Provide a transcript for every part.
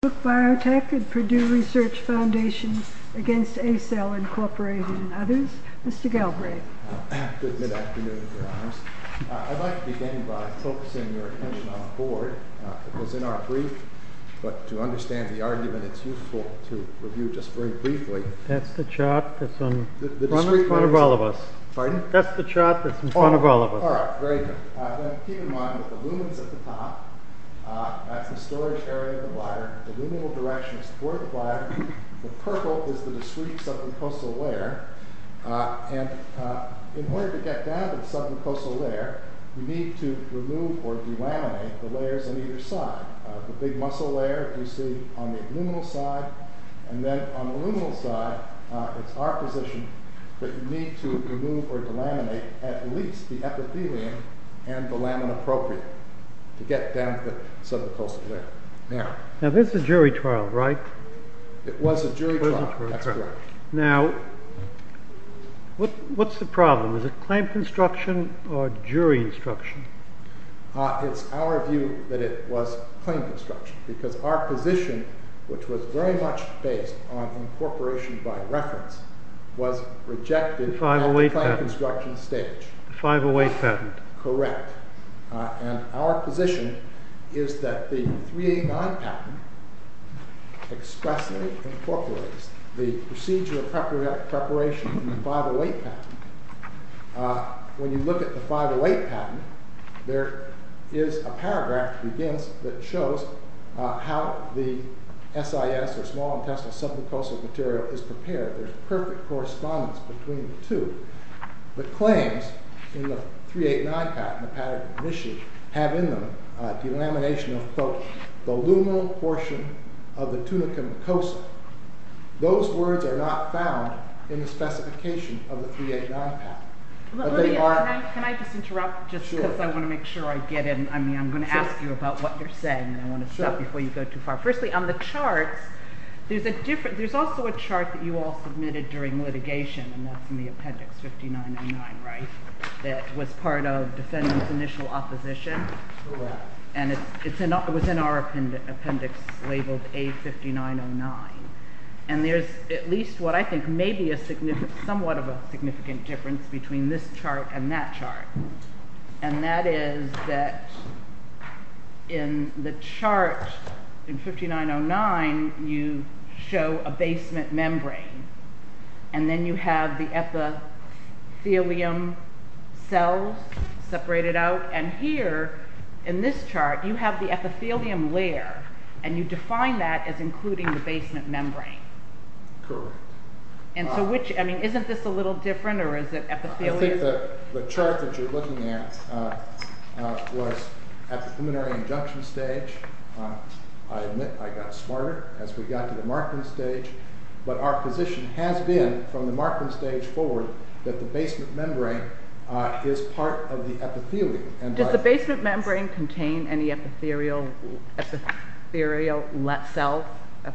Good afternoon, Your Honors. I'd like to begin by focusing your attention on the board. It was in our brief, but to understand the argument, it's useful to review just very briefly the chart that's in front of all of us. All right, very good. Keep in mind that the lumen's at the top. That's the storage area of the bladder. The luminal direction is toward the bladder. The purple is the discrete submucosal layer. In order to get down to the submucosal layer, you need to remove or delaminate the layers on either side. The big muscle layer you see on the luminal side, and then on the luminal side, it's our position that you need to remove or delaminate at least the epithelium and the lamin appropriate to get down to the submucosal layer. Now, this is jury trial, right? It was a jury trial. That's correct. Now, what's the problem? Is it claim construction or jury instruction? It's our view that it was claim construction, because our position, which was very much based on incorporation by reference, was rejected at the claim construction stage. The 508 patent. And our position is that the 389 patent expressly incorporates the procedure of preparation in the 508 patent. When you look at the 508 patent, there is a paragraph that begins that shows how the SIS, or small intestinal submucosal material, is prepared. There's perfect correspondence between the two. The claims in the 389 patent have in them a delamination of, quote, the luminal portion of the tunicum cosa. Those words are not found in the specification of the 389 patent. Can I just interrupt, just because I want to make sure I get in? I mean, I'm going to ask you about what you're saying, and I want to stop before you go too far. Firstly, on the charts, there's also a chart that you all submitted during litigation, and that's in the appendix 5909, right? That was part of defendant's initial opposition, and it was in our appendix labeled A5909. And there's at least what I think may be somewhat of a significant difference between this chart and that chart. And that is that in the chart, in 5909, you show a basement membrane, and then you have the epithelium cells separated out, and here, in this chart, you have the epithelium layer, and you define that as including the basement membrane. Correct. And so which, I mean, isn't this a little different, or is it epithelium? I don't think the chart that you're looking at was at the preliminary injunction stage. I admit I got smarter as we got to the marking stage. But our position has been, from the marking stage forward, that the basement membrane is part of the epithelium. Does the basement membrane contain any epithelial cells?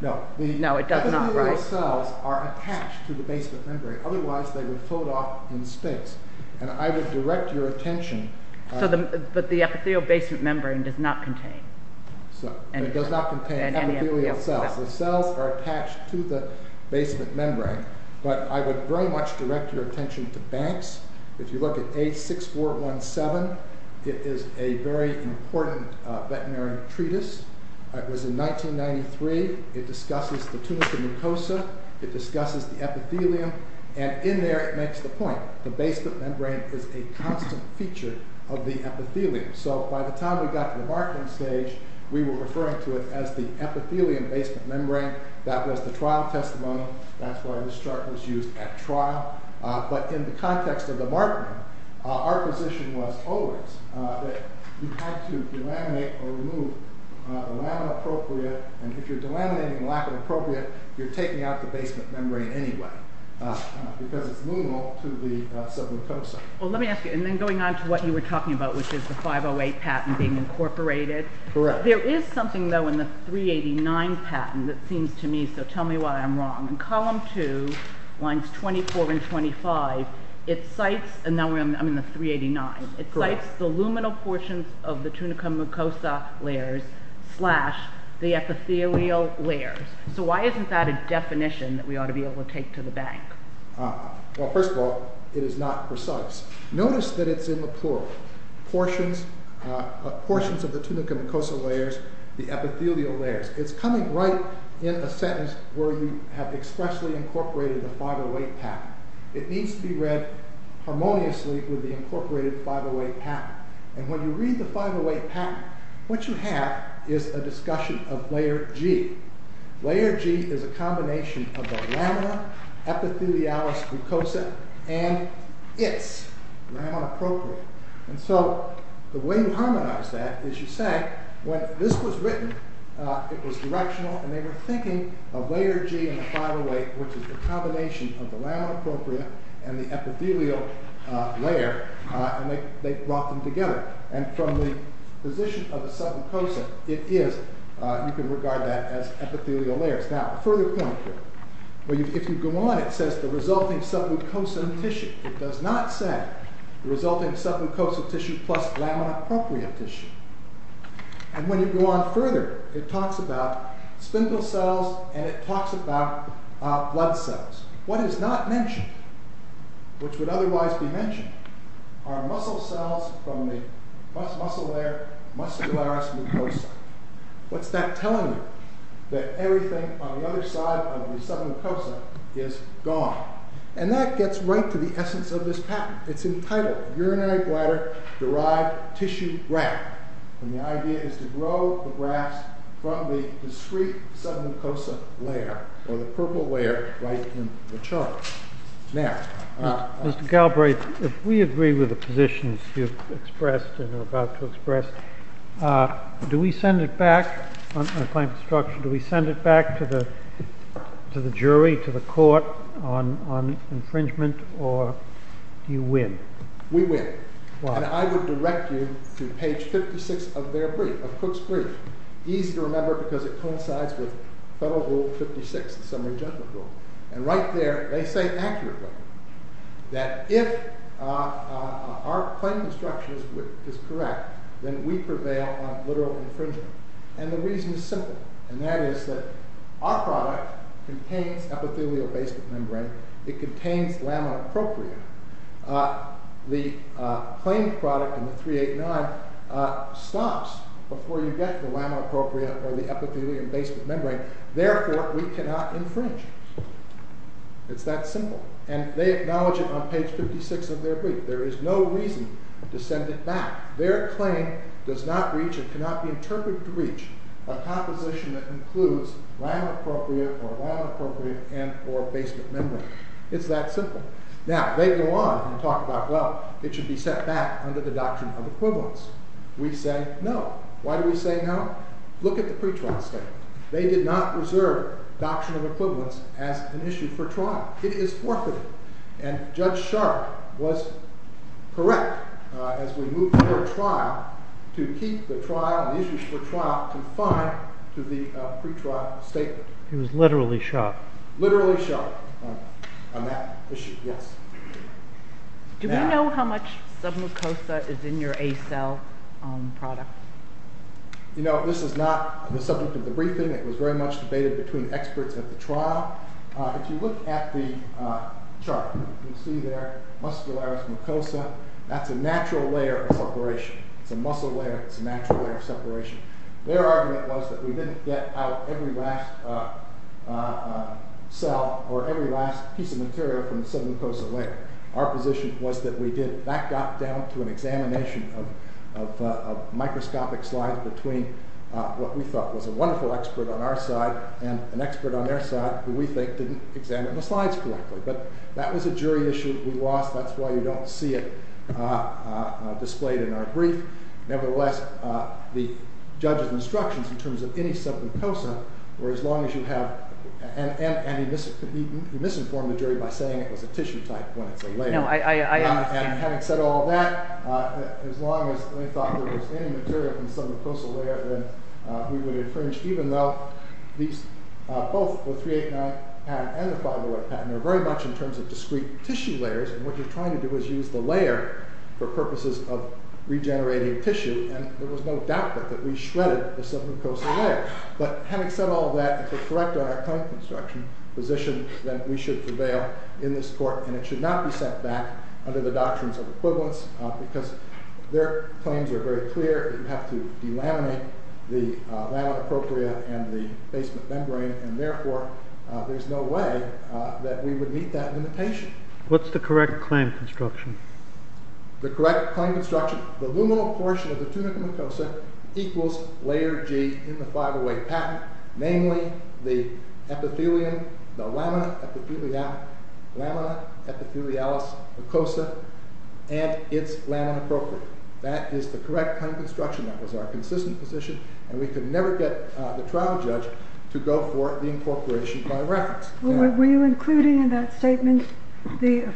No, it does not, right? Epithelial cells are attached to the basement membrane. Otherwise, they would fold off in space. And I would direct your attention... But the epithelial basement membrane does not contain any epithelial cells. It does not contain epithelial cells. The cells are attached to the basement membrane. But I would very much direct your attention to Banks. If you look at A6417, it is a very important veterinary treatise. It was in 1993. It discusses the tunica mucosa. It discusses the epithelium. And in there, it makes the point, the basement membrane is a constant feature of the epithelium. So by the time we got to the marking stage, we were referring to it as the epithelium basement membrane. That was the trial testimony. That's why this chart was used at trial. But in the context of the marking, our position was always that you had to delaminate or remove the lamina propria. And if you're delaminating the lamina propria, you're taking out the basement membrane anyway. Because it's liminal to the submucosa. Well, let me ask you. And then going on to what you were talking about, which is the 508 patent being incorporated. There is something, though, in the 389 patent that seems to me... So tell me why I'm wrong. In column 2, lines 24 and 25, it cites... And now I'm in the 389. It cites the luminal portions of the tunica mucosa layers slash the epithelial layers. So why isn't that a definition that we ought to be able to take to the bank? Well, first of all, it is not precise. Notice that it's in the plural. Portions of the tunica mucosa layers, the epithelial layers. It's coming right in a sentence where you have expressly incorporated the 508 patent. It needs to be read harmoniously with the incorporated 508 patent. And when you read the 508 patent, what you have is a discussion of layer G. Layer G is a combination of the lamina epithelialis mucosa and its lamina propria. And so the way you harmonize that is you say, when this was written, it was directional, and they were thinking of layer G and the 508, which is the combination of the lamina propria and the epithelial layer, and they brought them together. And from the position of the submucosa, it is. You can regard that as epithelial layers. Now, a further point here. If you go on, it says the resulting submucosal tissue. It does not say the resulting submucosal tissue plus lamina propria tissue. And when you go on further, it talks about spindle cells, and it talks about blood cells. What is not mentioned, which would otherwise be mentioned, are muscle cells from the muscle layer, muscularis mucosa. What's that telling you? That everything on the other side of the submucosa is gone. And that gets right to the essence of this patent. It's entitled, Urinary Bladder Derived Tissue Graph. And the idea is to grow the graphs from the discrete submucosa layer, or the purple layer right in the chart. Now. Mr. Galbraith, if we agree with the positions you've expressed and are about to express, do we send it back to the jury, to the court on infringement, or do you win? We win. And I would direct you to page 56 of their brief, of Cook's brief. Easy to remember because it coincides with Federal Rule 56, the Summary Judgment Rule. And right there, they say accurately that if our claim construction is correct, then we prevail on literal infringement. And the reason is simple. And that is that our product contains epithelial basement membrane. It contains lamina propria. The claimed product in the 389 stops before you get the lamina propria or the epithelial basement membrane. Therefore, we cannot infringe. It's that simple. And they acknowledge it on page 56 of their brief. There is no reason to send it back. Their claim does not reach and cannot be interpreted to reach a composition that includes lamina propria or lamina propria and or basement membrane. It's that simple. Now, they go on and talk about, well, it should be set back under the Doctrine of Equivalence. We say no. Why do we say no? Look at the pretrial state. They did not reserve Doctrine of Equivalence as an issue for trial. It is forfeited. And Judge Sharpe was correct as we moved to a trial to keep the trial and the issues for trial confined to the pretrial statement. He was literally shot. Literally shot on that issue, yes. Do we know how much submucosa is in your Acell product? You know, this is not the subject of the briefing. It was very much debated between experts at the trial. If you look at the chart, you'll see there muscularis mucosa. That's a natural layer of separation. It's a muscle layer. It's a natural layer of separation. Their argument was that we didn't get out every last cell or every last piece of material from the submucosa layer. Our position was that we did. That got down to an examination of microscopic slides between what we thought was a wonderful expert on our side and an expert on their side who we think didn't examine the slides correctly. But that was a jury issue we lost. That's why you don't see it displayed in our brief. Nevertheless, the judge's instructions in terms of any submucosa were as long as you have and he misinformed the jury by saying it was a tissue type when it's a layer. And having said all that, as long as they thought there was any material from the submucosa layer, then we would have infringed even though both the 389 patent and the 508 patent are very much in terms of discrete tissue layers. And what you're trying to do is use the layer for purposes of regenerating tissue. And there was no doubt that we shredded the submucosa layer. But having said all that, if we're correct on our claim construction position, then we should prevail in this court. And it should not be set back under the doctrines of equivalence because their claims are very clear that you have to delaminate the lamina propria and the basement membrane, and therefore there's no way that we would meet that limitation. What's the correct claim construction? The correct claim construction, the luminal portion of the tunica mucosa equals layer G in the 508 patent, namely the lamina epithelialis mucosa and its lamina propria. That is the correct claim construction. That was our consistent position, and we could never get the trial judge to go for the incorporation by reference. Were you including in that statement the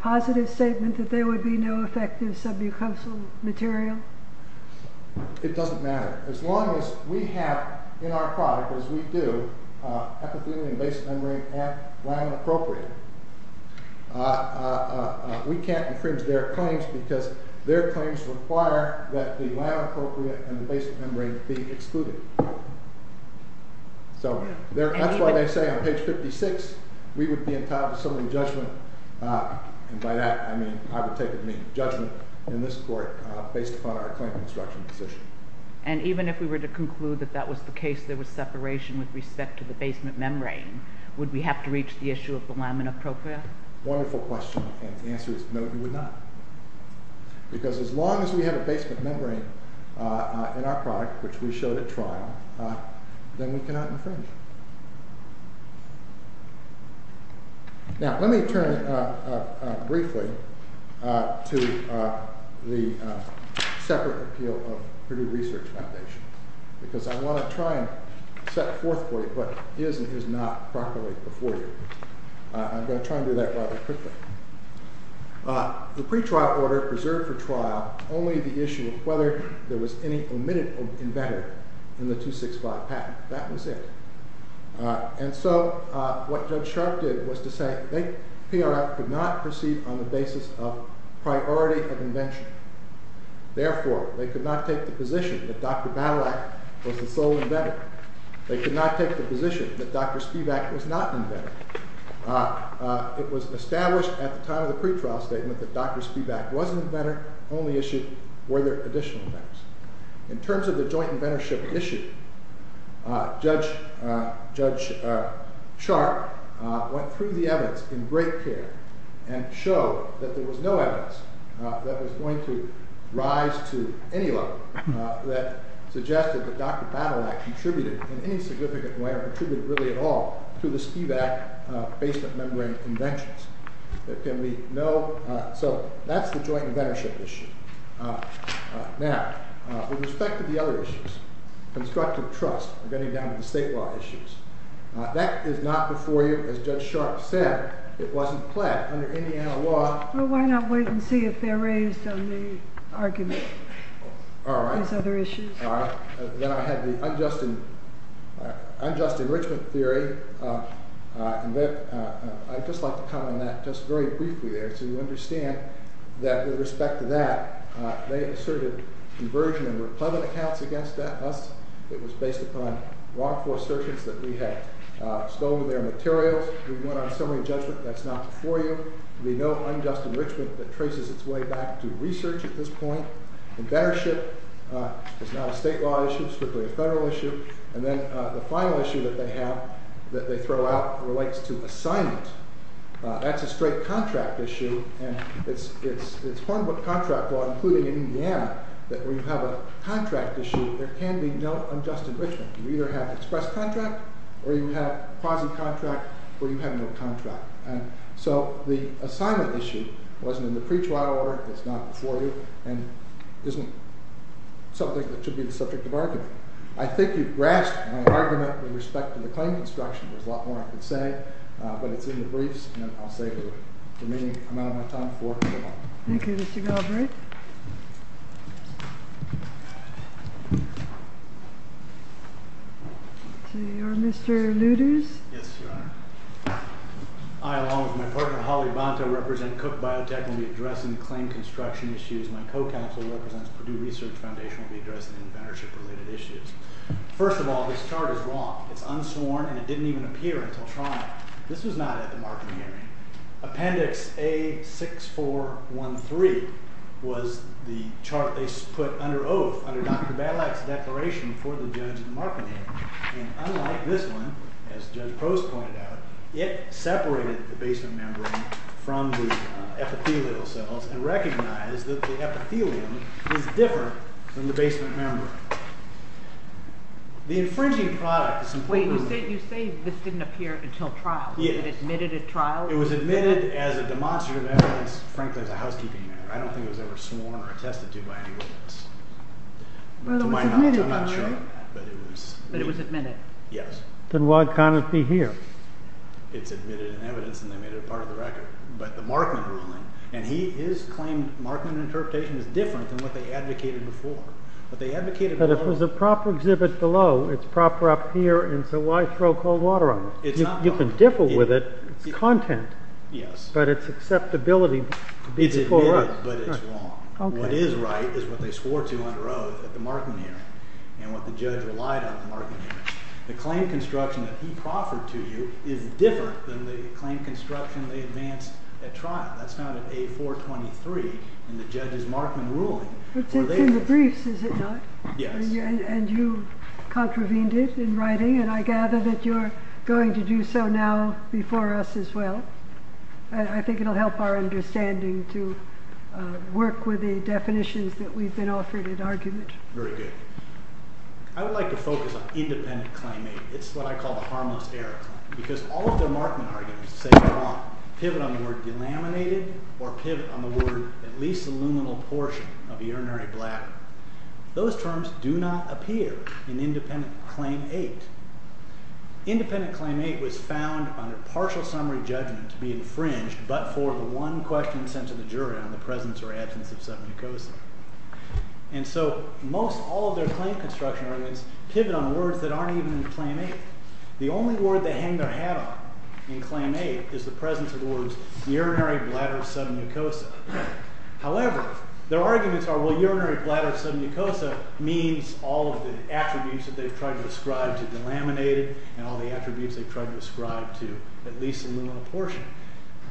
positive statement that there would be no effective submucosal material? It doesn't matter. As long as we have in our product, as we do, epithelium and basement membrane and lamina propria, we can't infringe their claims because their claims require that the lamina propria and the basement membrane be excluded. So that's why they say on page 56 we would be entitled to some of the judgment, and by that I mean I would take the judgment in this court based upon our claim construction position. And even if we were to conclude that that was the case, there was separation with respect to the basement membrane, would we have to reach the issue of the lamina propria? Wonderful question, and the answer is no, we would not. Because as long as we have a basement membrane in our product, which we showed at trial, then we cannot infringe. Now let me turn briefly to the separate appeal of Purdue Research Foundation, because I want to try and set forth for you what is and is not properly before you. I'm going to try and do that rather quickly. The pretrial order preserved for trial only the issue of whether there was any omitted embedder in the 265 patent. That was it. And so what Judge Sharp did was to say they, PRF, could not proceed on the basis of priority of invention. Therefore, they could not take the position that Dr. Balak was the sole embedder. They could not take the position that Dr. Spivak was not an embedder. It was established at the time of the pretrial statement that Dr. Spivak was an embedder, only issue were there additional embedders. In terms of the joint inventorship issue, Judge Sharp went through the evidence in great care and showed that there was no evidence that was going to rise to any level that suggested that Dr. Balak contributed in any significant way, or contributed really at all, to the Spivak basement membrane inventions. So that's the joint inventorship issue. Now, with respect to the other issues, constructive trust, we're getting down to the state law issues. That is not before you, as Judge Sharp said. It wasn't pled under any analog. Well, why not wait and see if they're raised on the argument? All right. These other issues. All right. Then I had the unjust enrichment theory. I'd just like to comment on that just very briefly there so you understand that with respect to that, they asserted inversion and replevant accounts against us. It was based upon wrongful assertions that we had stolen their materials. We went on a summary judgment. That's not before you. We know unjust enrichment that traces its way back to research at this point. Inventorship is not a state law issue. It's strictly a federal issue. And then the final issue that they have that they throw out relates to assignment. That's a straight contract issue, and it's Hornbook contract law, including Indiana, that when you have a contract issue, there can be no unjust enrichment. You either have express contract or you have quasi-contract or you have no contract. And so the assignment issue wasn't in the pre-trial order. It's not before you and isn't something that should be the subject of argument. I think you've grasped my argument with respect to the claim construction. There's a lot more I could say, but it's in the briefs, and I'll save the remaining amount of my time for tomorrow. Thank you, Mr. Galbraith. So you are Mr. Lueders? Yes, Your Honor. I, along with my partner Holly Bonta, represent Cook Biotech, and will be addressing the claim construction issues. My co-counsel represents Purdue Research Foundation and will be addressing inventorship-related issues. First of all, this chart is wrong. It's unsworn, and it didn't even appear until trial. This was not at the Markham hearing. Appendix A6413 was the chart they put under oath, under Dr. Balak's declaration for the judge at the Markham hearing. And unlike this one, as Judge Crose pointed out, it separated the basement membrane from the epithelial cells and recognized that the epithelium is different than the basement membrane. The infringing product is important. Wait, you say this didn't appear until trial? Yes. It was admitted at trial? It was admitted as a demonstrative evidence, frankly, as a housekeeping matter. I don't think it was ever sworn or attested to by any witness. Well, it was admitted, by the way. But it was admitted. Yes. Then why can't it be here? It's admitted in evidence, and they made it a part of the record. But the Markham ruling, and his claimed Markham interpretation is different than what they advocated before. But they advocated below. But if it was a proper exhibit below, it's proper up here, and so why throw cold water on it? You can differ with it. It's content. Yes. But it's acceptability to be before us. It's admitted, but it's wrong. What is right is what they swore to on the road at the Markham hearing and what the judge relied on at the Markham hearing. The claim construction that he proffered to you is different than the claim construction they advanced at trial. That's not an A423 in the judge's Markham ruling. It's in the briefs, is it not? Yes. And you contravened it in writing, and I gather that you're going to do so now before us as well. I think it will help our understanding to work with the definitions that we've been offered in argument. Very good. I would like to focus on independent claim. It's what I call the harmless error claim because all of their Markham arguments say they're wrong. Pivot on the word delaminated or pivot on the word at least a luminal portion of a urinary bladder. Those terms do not appear in independent claim 8. Independent claim 8 was found under partial summary judgment to be infringed but for the one question sent to the jury on the presence or absence of submucosa. And so most all of their claim construction arguments pivot on words that aren't even in claim 8. The only word they hang their hat on in claim 8 is the presence of the words urinary bladder submucosa. However, their arguments are, well, urinary bladder submucosa means all of the attributes that they've tried to ascribe to delaminated and all the attributes they've tried to ascribe to at least a luminal portion.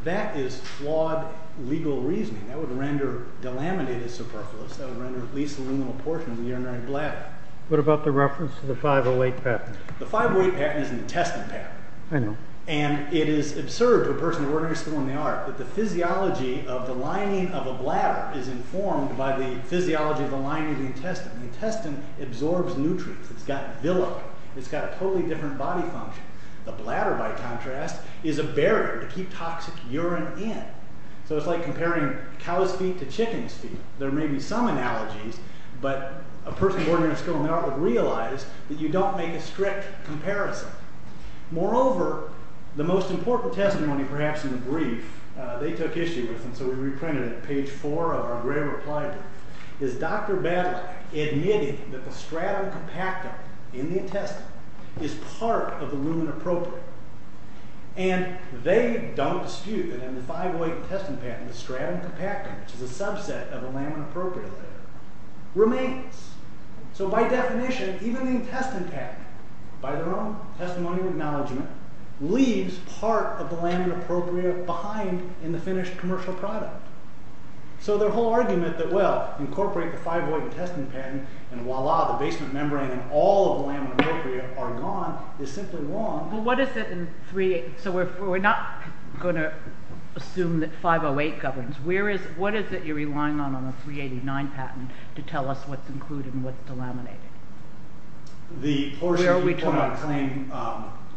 That is flawed legal reasoning. That would render delaminated superfluous. That would render at least a luminal portion of the urinary bladder. What about the reference to the 508 patent? The 508 patent is an intestine patent. I know. And it is absurd to a person of ordinary skill in the art that the physiology of the lining of a bladder is informed by the physiology of the lining of the intestine. The intestine absorbs nutrients. It's got villi. It's got a totally different body function. The bladder, by contrast, is a barrier to keep toxic urine in. So it's like comparing cow's feet to chicken's feet. There may be some analogies, but a person of ordinary skill in the art would realize that you don't make a strict comparison. Moreover, the most important testimony, perhaps in the brief, they took issue with, and so we reprinted it on page 4 of our rare reply book, is Dr. Badlack admitting that the stratum compactum in the intestine is part of the lumina propria. And they don't dispute that in the 508 patent, the stratum compactum, which is a subset of the lumina propria, remains. So by definition, even the intestine patent, by their own testimony and acknowledgement, leaves part of the lumina propria behind in the finished commercial product. So their whole argument that, well, incorporate the 508 intestine patent and voila, the basement membrane and all of the lumina propria are gone, is simply wrong. So we're not going to assume that 508 governs. What is it you're relying on, on the 389 patent, to tell us what's included and what's delaminated? The portion, if you quote my claim,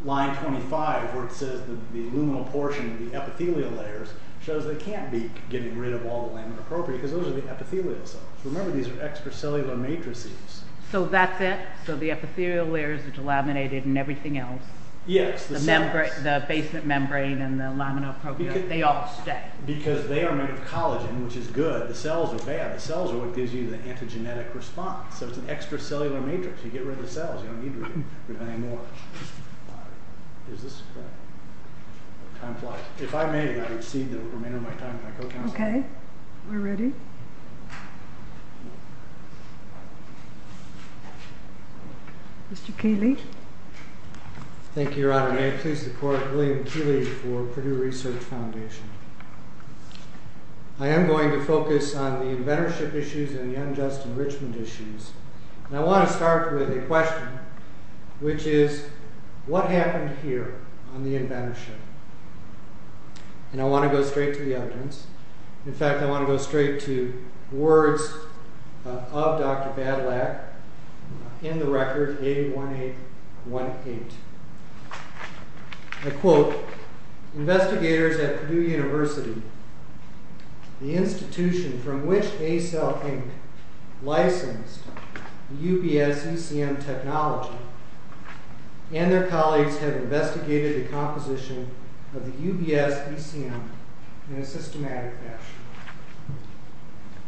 line 25, where it says the luminal portion, the epithelial layers, shows they can't be getting rid of all the lumina propria because those are the epithelial cells. Remember, these are extracellular matrices. So that's it? So the epithelial layers are delaminated and everything else. Yes. The basement membrane and the lumina propria, they all stay. Because they are made of collagen, which is good. The cells are bad. The cells are what gives you the antigenetic response. So it's an extracellular matrix. You get rid of the cells. You don't need to get rid of any more. If I made it, I'd receive the remainder of my time. Okay, we're ready. Mr. Keeley? Thank you, Your Honor. May it please the Court, William Keeley for Purdue Research Foundation. I am going to focus on the inventorship issues and the unjust enrichment issues. And I want to start with a question, which is, what happened here on the inventorship? And I want to go straight to the evidence. In fact, I want to go straight to words of Dr. Badlack in the record 81818. I quote, Investigators at Purdue University, the institution from which Acell Inc. licensed the UBS-ECM technology, and their colleagues have investigated the composition of the UBS-ECM in a systematic fashion.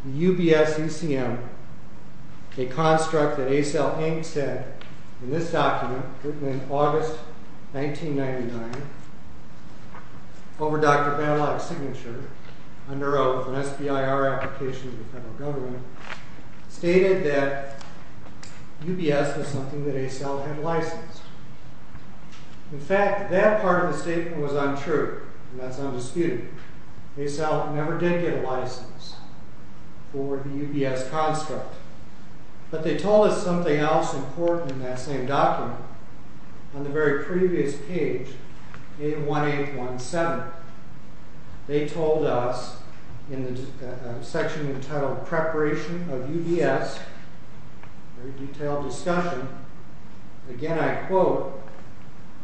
The UBS-ECM, a construct that Acell Inc. said in this document written in August 1999 over Dr. Badlack's signature under an SBIR application to the federal government, stated that UBS was something that Acell had licensed. In fact, that part of the statement was untrue, and that's undisputed. Acell never did get a license for the UBS construct. But they told us something else important in that same document on the very previous page, 81817. They told us in the section entitled Preparation of UBS, a very detailed discussion, again I quote,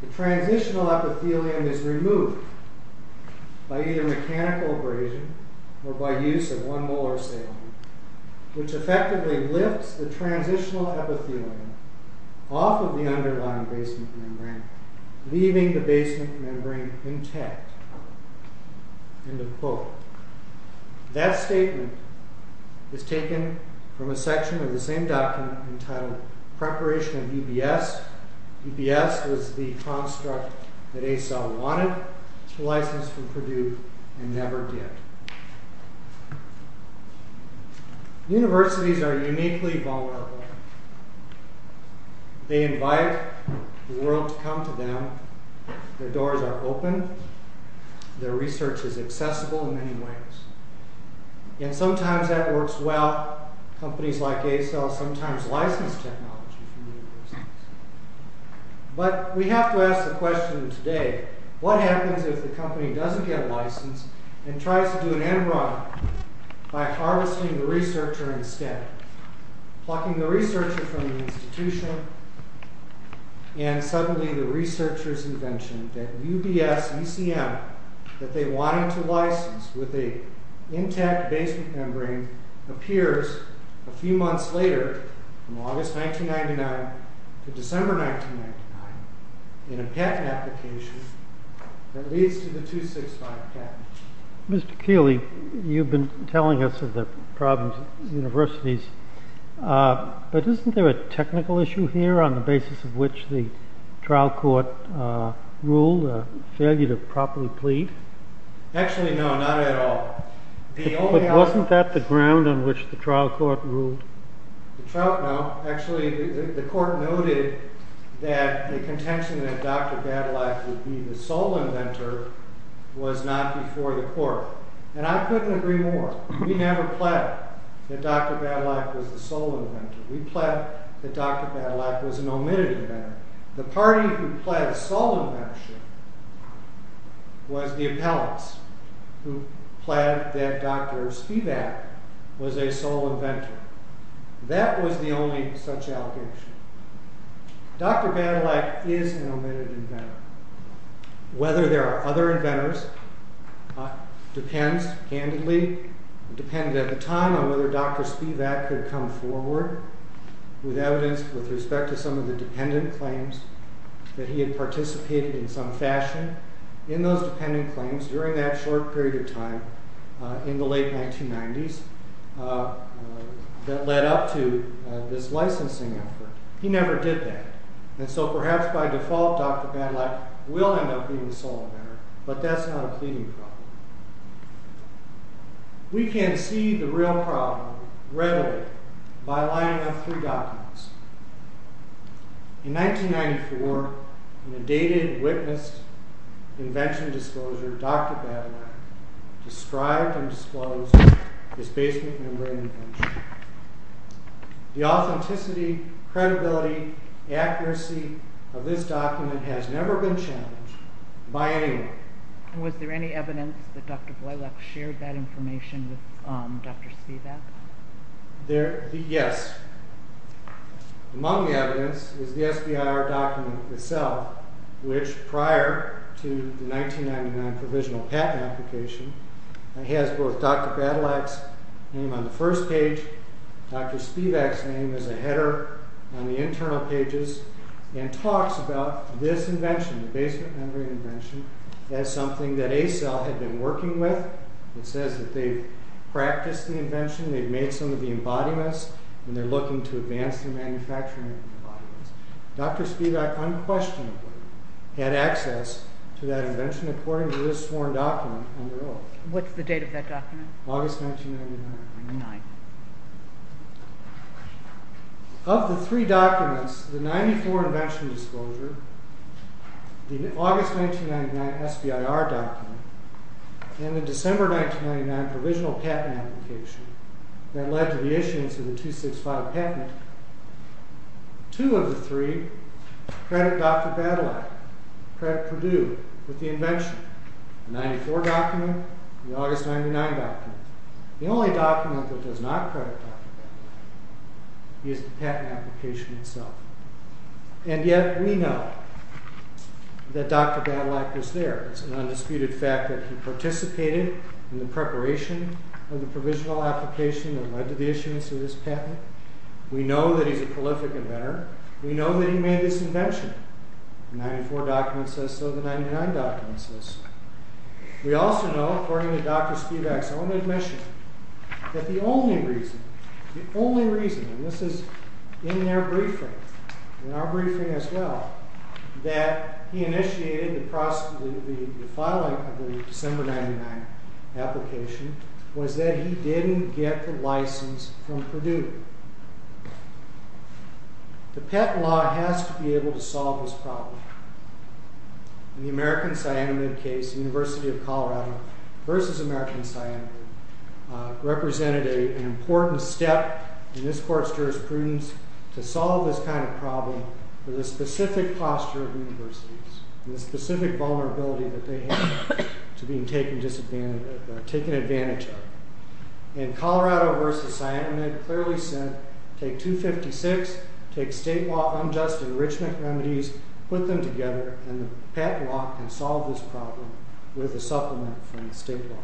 The transitional epithelium is removed by either mechanical abrasion or by use of one molar saline, which effectively lifts the transitional epithelium off of the underlying basement membrane, leaving the basement membrane intact. End of quote. That statement is taken from a section of the same document entitled Preparation of UBS, UBS was the construct that Acell wanted to license from Purdue, and never did. Universities are uniquely vulnerable. They invite the world to come to them. Their doors are open. Their research is accessible in many ways. And sometimes that works well. Companies like Acell sometimes license technology from universities. But we have to ask the question today, what happens if the company doesn't get a license and tries to do an end run by harvesting the researcher instead? Plucking the researcher from the institution, and suddenly the researcher's invention, that UBS ECM that they wanted to license with a intact basement membrane appears a few months later, from August 1999 to December 1999, in a patent application that leads to the 265 patent. Mr. Keeley, you've been telling us of the problems of universities, but isn't there a technical issue here on the basis of which the trial court ruled a failure to properly plead? Actually, no, not at all. But wasn't that the ground on which the trial court ruled? No, actually, the court noted that the contention that Dr. Badalak would be the sole inventor was not before the court. And I couldn't agree more. We never pled that Dr. Badalak was the sole inventor. We pled that Dr. Badalak was an omitted inventor. The party who pled sole inventorship was the appellants, who pled that Dr. Spivak was a sole inventor. That was the only such allegation. Dr. Badalak is an omitted inventor. Whether there are other inventors depends, candidly, depended at the time on whether Dr. Spivak could come forward with evidence with respect to some of the dependent claims that he had participated in some fashion in those dependent claims during that short period of time in the late 1990s that led up to this licensing effort. He never did that. And so perhaps by default, Dr. Badalak will end up being the sole inventor, but that's not a pleading problem. We can see the real problem readily by lining up three documents. In 1994, in a dated witness invention disclosure, Dr. Badalak described and disclosed his basement membrane invention. The authenticity, credibility, accuracy of this document has never been challenged by anyone. Was there any evidence that Dr. Boylec shared that information with Dr. Spivak? Yes. Among the evidence is the SBIR document itself, which prior to the 1999 provisional patent application, it has both Dr. Badalak's name on the first page, Dr. Spivak's name as a header on the internal pages, and talks about this invention, the basement membrane invention, as something that Acell had been working with. It says that they've practiced the invention, they've made some of the embodiments, and they're looking to advance the manufacturing of the embodiments. Dr. Spivak unquestionably had access to that invention according to this sworn document on their oath. What's the date of that document? August 1999. Of the three documents, the 1994 invention disclosure, the August 1999 SBIR document, and the December 1999 provisional patent application that led to the issuance of the 265 patent, two of the three credit Dr. Badalak, credit Purdue with the invention. The 1994 document, the August 1999 document. The only document that does not credit Dr. Badalak is the patent application itself. And yet we know that Dr. Badalak was there. It's an undisputed fact that he participated in the preparation of the provisional application that led to the issuance of this patent. We know that he's a prolific inventor. We know that he made this invention. The 1994 document says so, the 1999 document says so. We also know, according to Dr. Spivak's own admission, that the only reason, the only reason, and this is in their briefing, in our briefing as well, that he initiated the filing of the December 1999 application was that he didn't get the license from Purdue. The PEP law has to be able to solve this problem. In the American Siaman case, the University of Colorado versus American Siaman represented an important step in this court's jurisprudence to solve this kind of problem with a specific posture of universities and the specific vulnerability that they have to being taken advantage of. In Colorado versus Siaman, it clearly said, take 256, take state law unjust enrichment remedies, put them together, and the PEP law can solve this problem with a supplement from the state law.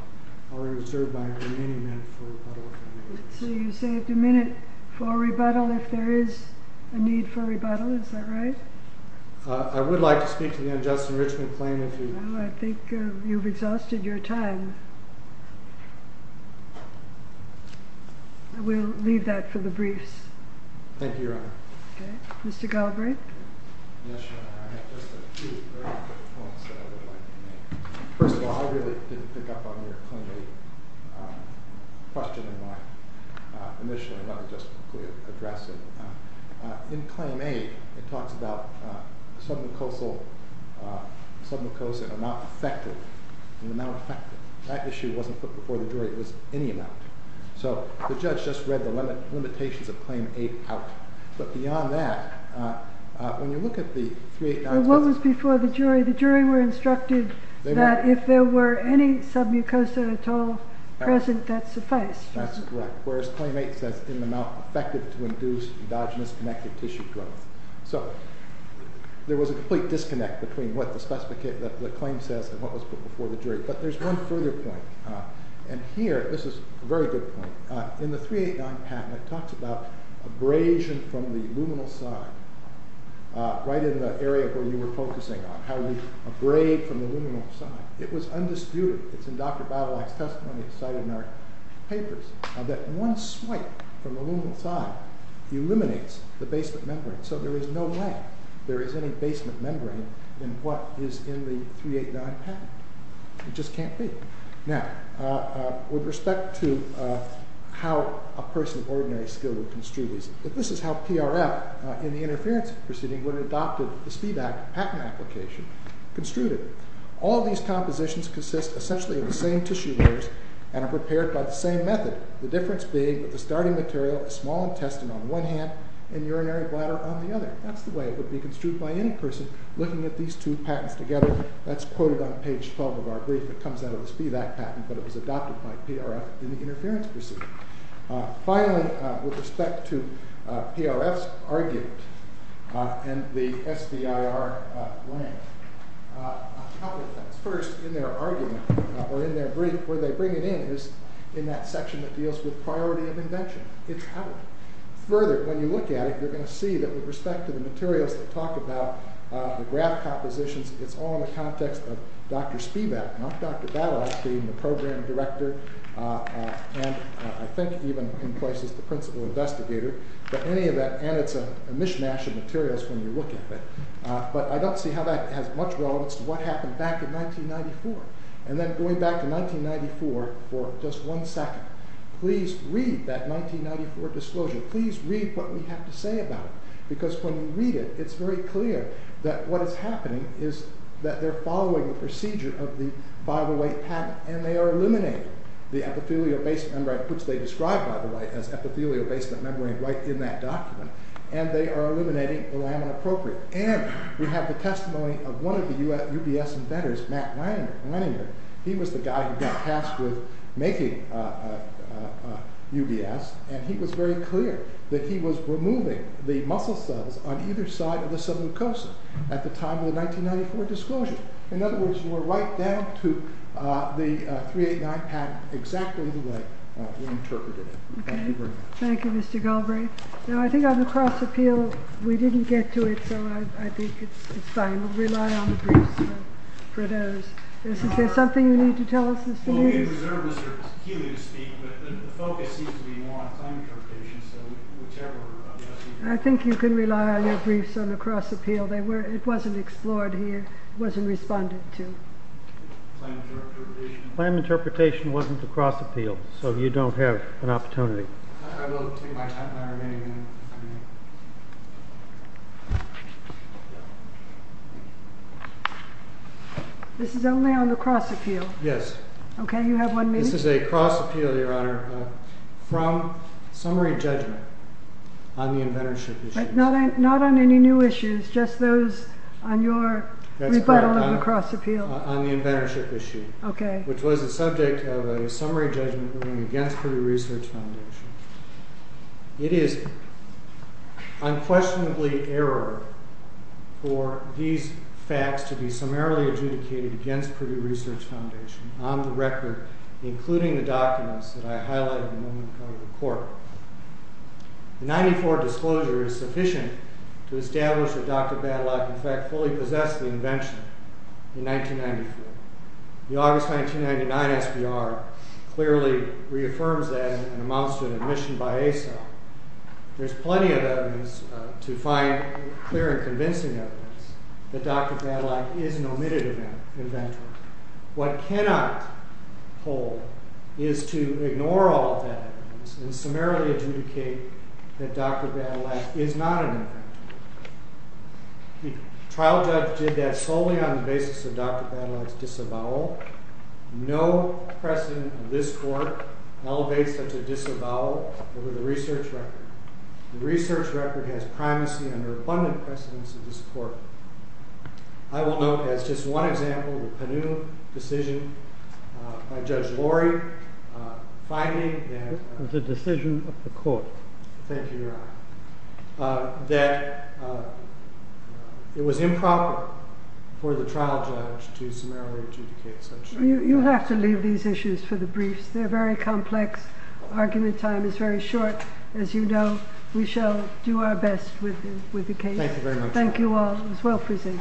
I'll reserve my remaining minute for rebuttal if I may. So you saved a minute for rebuttal if there is a need for rebuttal, is that right? I would like to speak to the unjust enrichment claim if you... No, I think you've exhausted your time. We'll leave that for the briefs. Thank you, Your Honor. Okay. Mr. Galbraith? Yes, Your Honor, I have just a few very quick points that I would like to make. First of all, I really didn't pick up on your claim with the question in mind initially. Let me just quickly address it. In Claim A, it talks about submucosal... submucosa and the amount affected. That issue wasn't put before the jury. It was any amount. So the judge just read the limitations of Claim A out. But beyond that, when you look at the 389... Well, what was before the jury? The jury were instructed that if there were any submucosa at all present, that's the first. That's correct, whereas Claim A says, in the amount affected to induce endogenous connective tissue growth. So there was a complete disconnect between what the claim says and what was put before the jury. But there's one further point, and here this is a very good point. In the 389 patent, it talks about abrasion from the luminal side, right in the area where you were focusing on, how we abrade from the luminal side. It was undisputed. It's in Dr. Battelak's testimony, it's cited in our papers, that one swipe from the luminal side eliminates the basement membrane. So there is no way there is any basement membrane in what is in the 389 patent. It just can't be. Now, with respect to how a person of ordinary skill would construe these, this is how PRL, in the interference proceeding, would have adopted the speed patent application, construted it. All these compositions consist essentially of the same tissue layers and are prepared by the same method, the difference being that the starting material is small intestine on one hand and urinary bladder on the other. That's the way it would be construed by any person looking at these two patents together. That's quoted on page 12 of our brief. It comes out of the speed act patent, but it was adopted by PRF in the interference proceeding. Finally, with respect to PRF's argument and the SBIR claim, a couple of things. First, in their argument or in their brief, where they bring it in is in that section that deals with priority of invention. It's outward. Further, when you look at it, you're going to see that with respect to the materials that talk about the graph compositions, it's all in the context of Dr. Spivak, not Dr. Battles, being the program director and I think even in places the principal investigator, but any of that, and it's a mishmash of materials when you look at it. But I don't see how that has much relevance to what happened back in 1994. And then going back to 1994 for just one second, please read that 1994 disclosure. Please read what we have to say about it, because when you read it, it's very clear that what is happening is that they're following the procedure of the Bible weight patent and they are eliminating the epithelial basement membrane, which they describe, by the way, as epithelial basement membrane right in that document, and they are eliminating the lamina propria. And we have the testimony of one of the UBS inventors, Matt Leninger. He was the guy who got tasked with making UBS and he was very clear that he was removing the muscle cells on either side of the subleukosis at the time of the 1994 disclosure. In other words, we're right down to the 389 patent exactly the way we interpreted it. Thank you very much. Thank you, Mr. Galbraith. Now, I think on the cross-appeal, we didn't get to it, so I think it's fine. We'll rely on the briefs for those. Is there something you need to tell us, Mr. Nunes? Well, we reserve this for Healy to speak, but the focus seems to be more on claim interpretation, so whichever of the other speakers... I think you can rely on your briefs on the cross-appeal. It wasn't explored here. It wasn't responded to. Claim interpretation? Claim interpretation wasn't the cross-appeal, so you don't have an opportunity. I will take my remaining minute. This is only on the cross-appeal? Yes. Okay, you have one minute. This is a cross-appeal, Your Honor, from summary judgment on the inventorship issue. But not on any new issues, just those on your rebuttal of the cross-appeal. That's correct, on the inventorship issue, which was the subject of a summary judgment against Privy Research Foundation. It is unquestionably error for these facts to be summarily adjudicated against Privy Research Foundation on the record, including the documents that I highlighted in the moment of coming to court. The 94 disclosure is sufficient to establish that Dr. Badlock, in fact, fully possessed the invention in 1994. The August 1999 SBR clearly reaffirms that and amounts to an admission by ASA. There's plenty of evidence to find clear and convincing evidence that Dr. Badlock is an omitted inventor. What cannot hold is to ignore all of that evidence and summarily adjudicate that Dr. Badlock is not an inventor. The trial judge did that solely on the basis of Dr. Badlock's disavowal. No precedent of this court elevates such a disavowal over the research record. The research record has primacy under abundant precedence of this court. I will note as just one example the Penu decision by Judge Lorry, finding that... It was a decision of the court. Thank you, Your Honor. That it was improper for the trial judge to summarily adjudicate such... You have to leave these issues for the briefs. They're very complex. Argument time is very short. As you know, we shall do our best with the case. Thank you very much. Thank you all. It was well presented.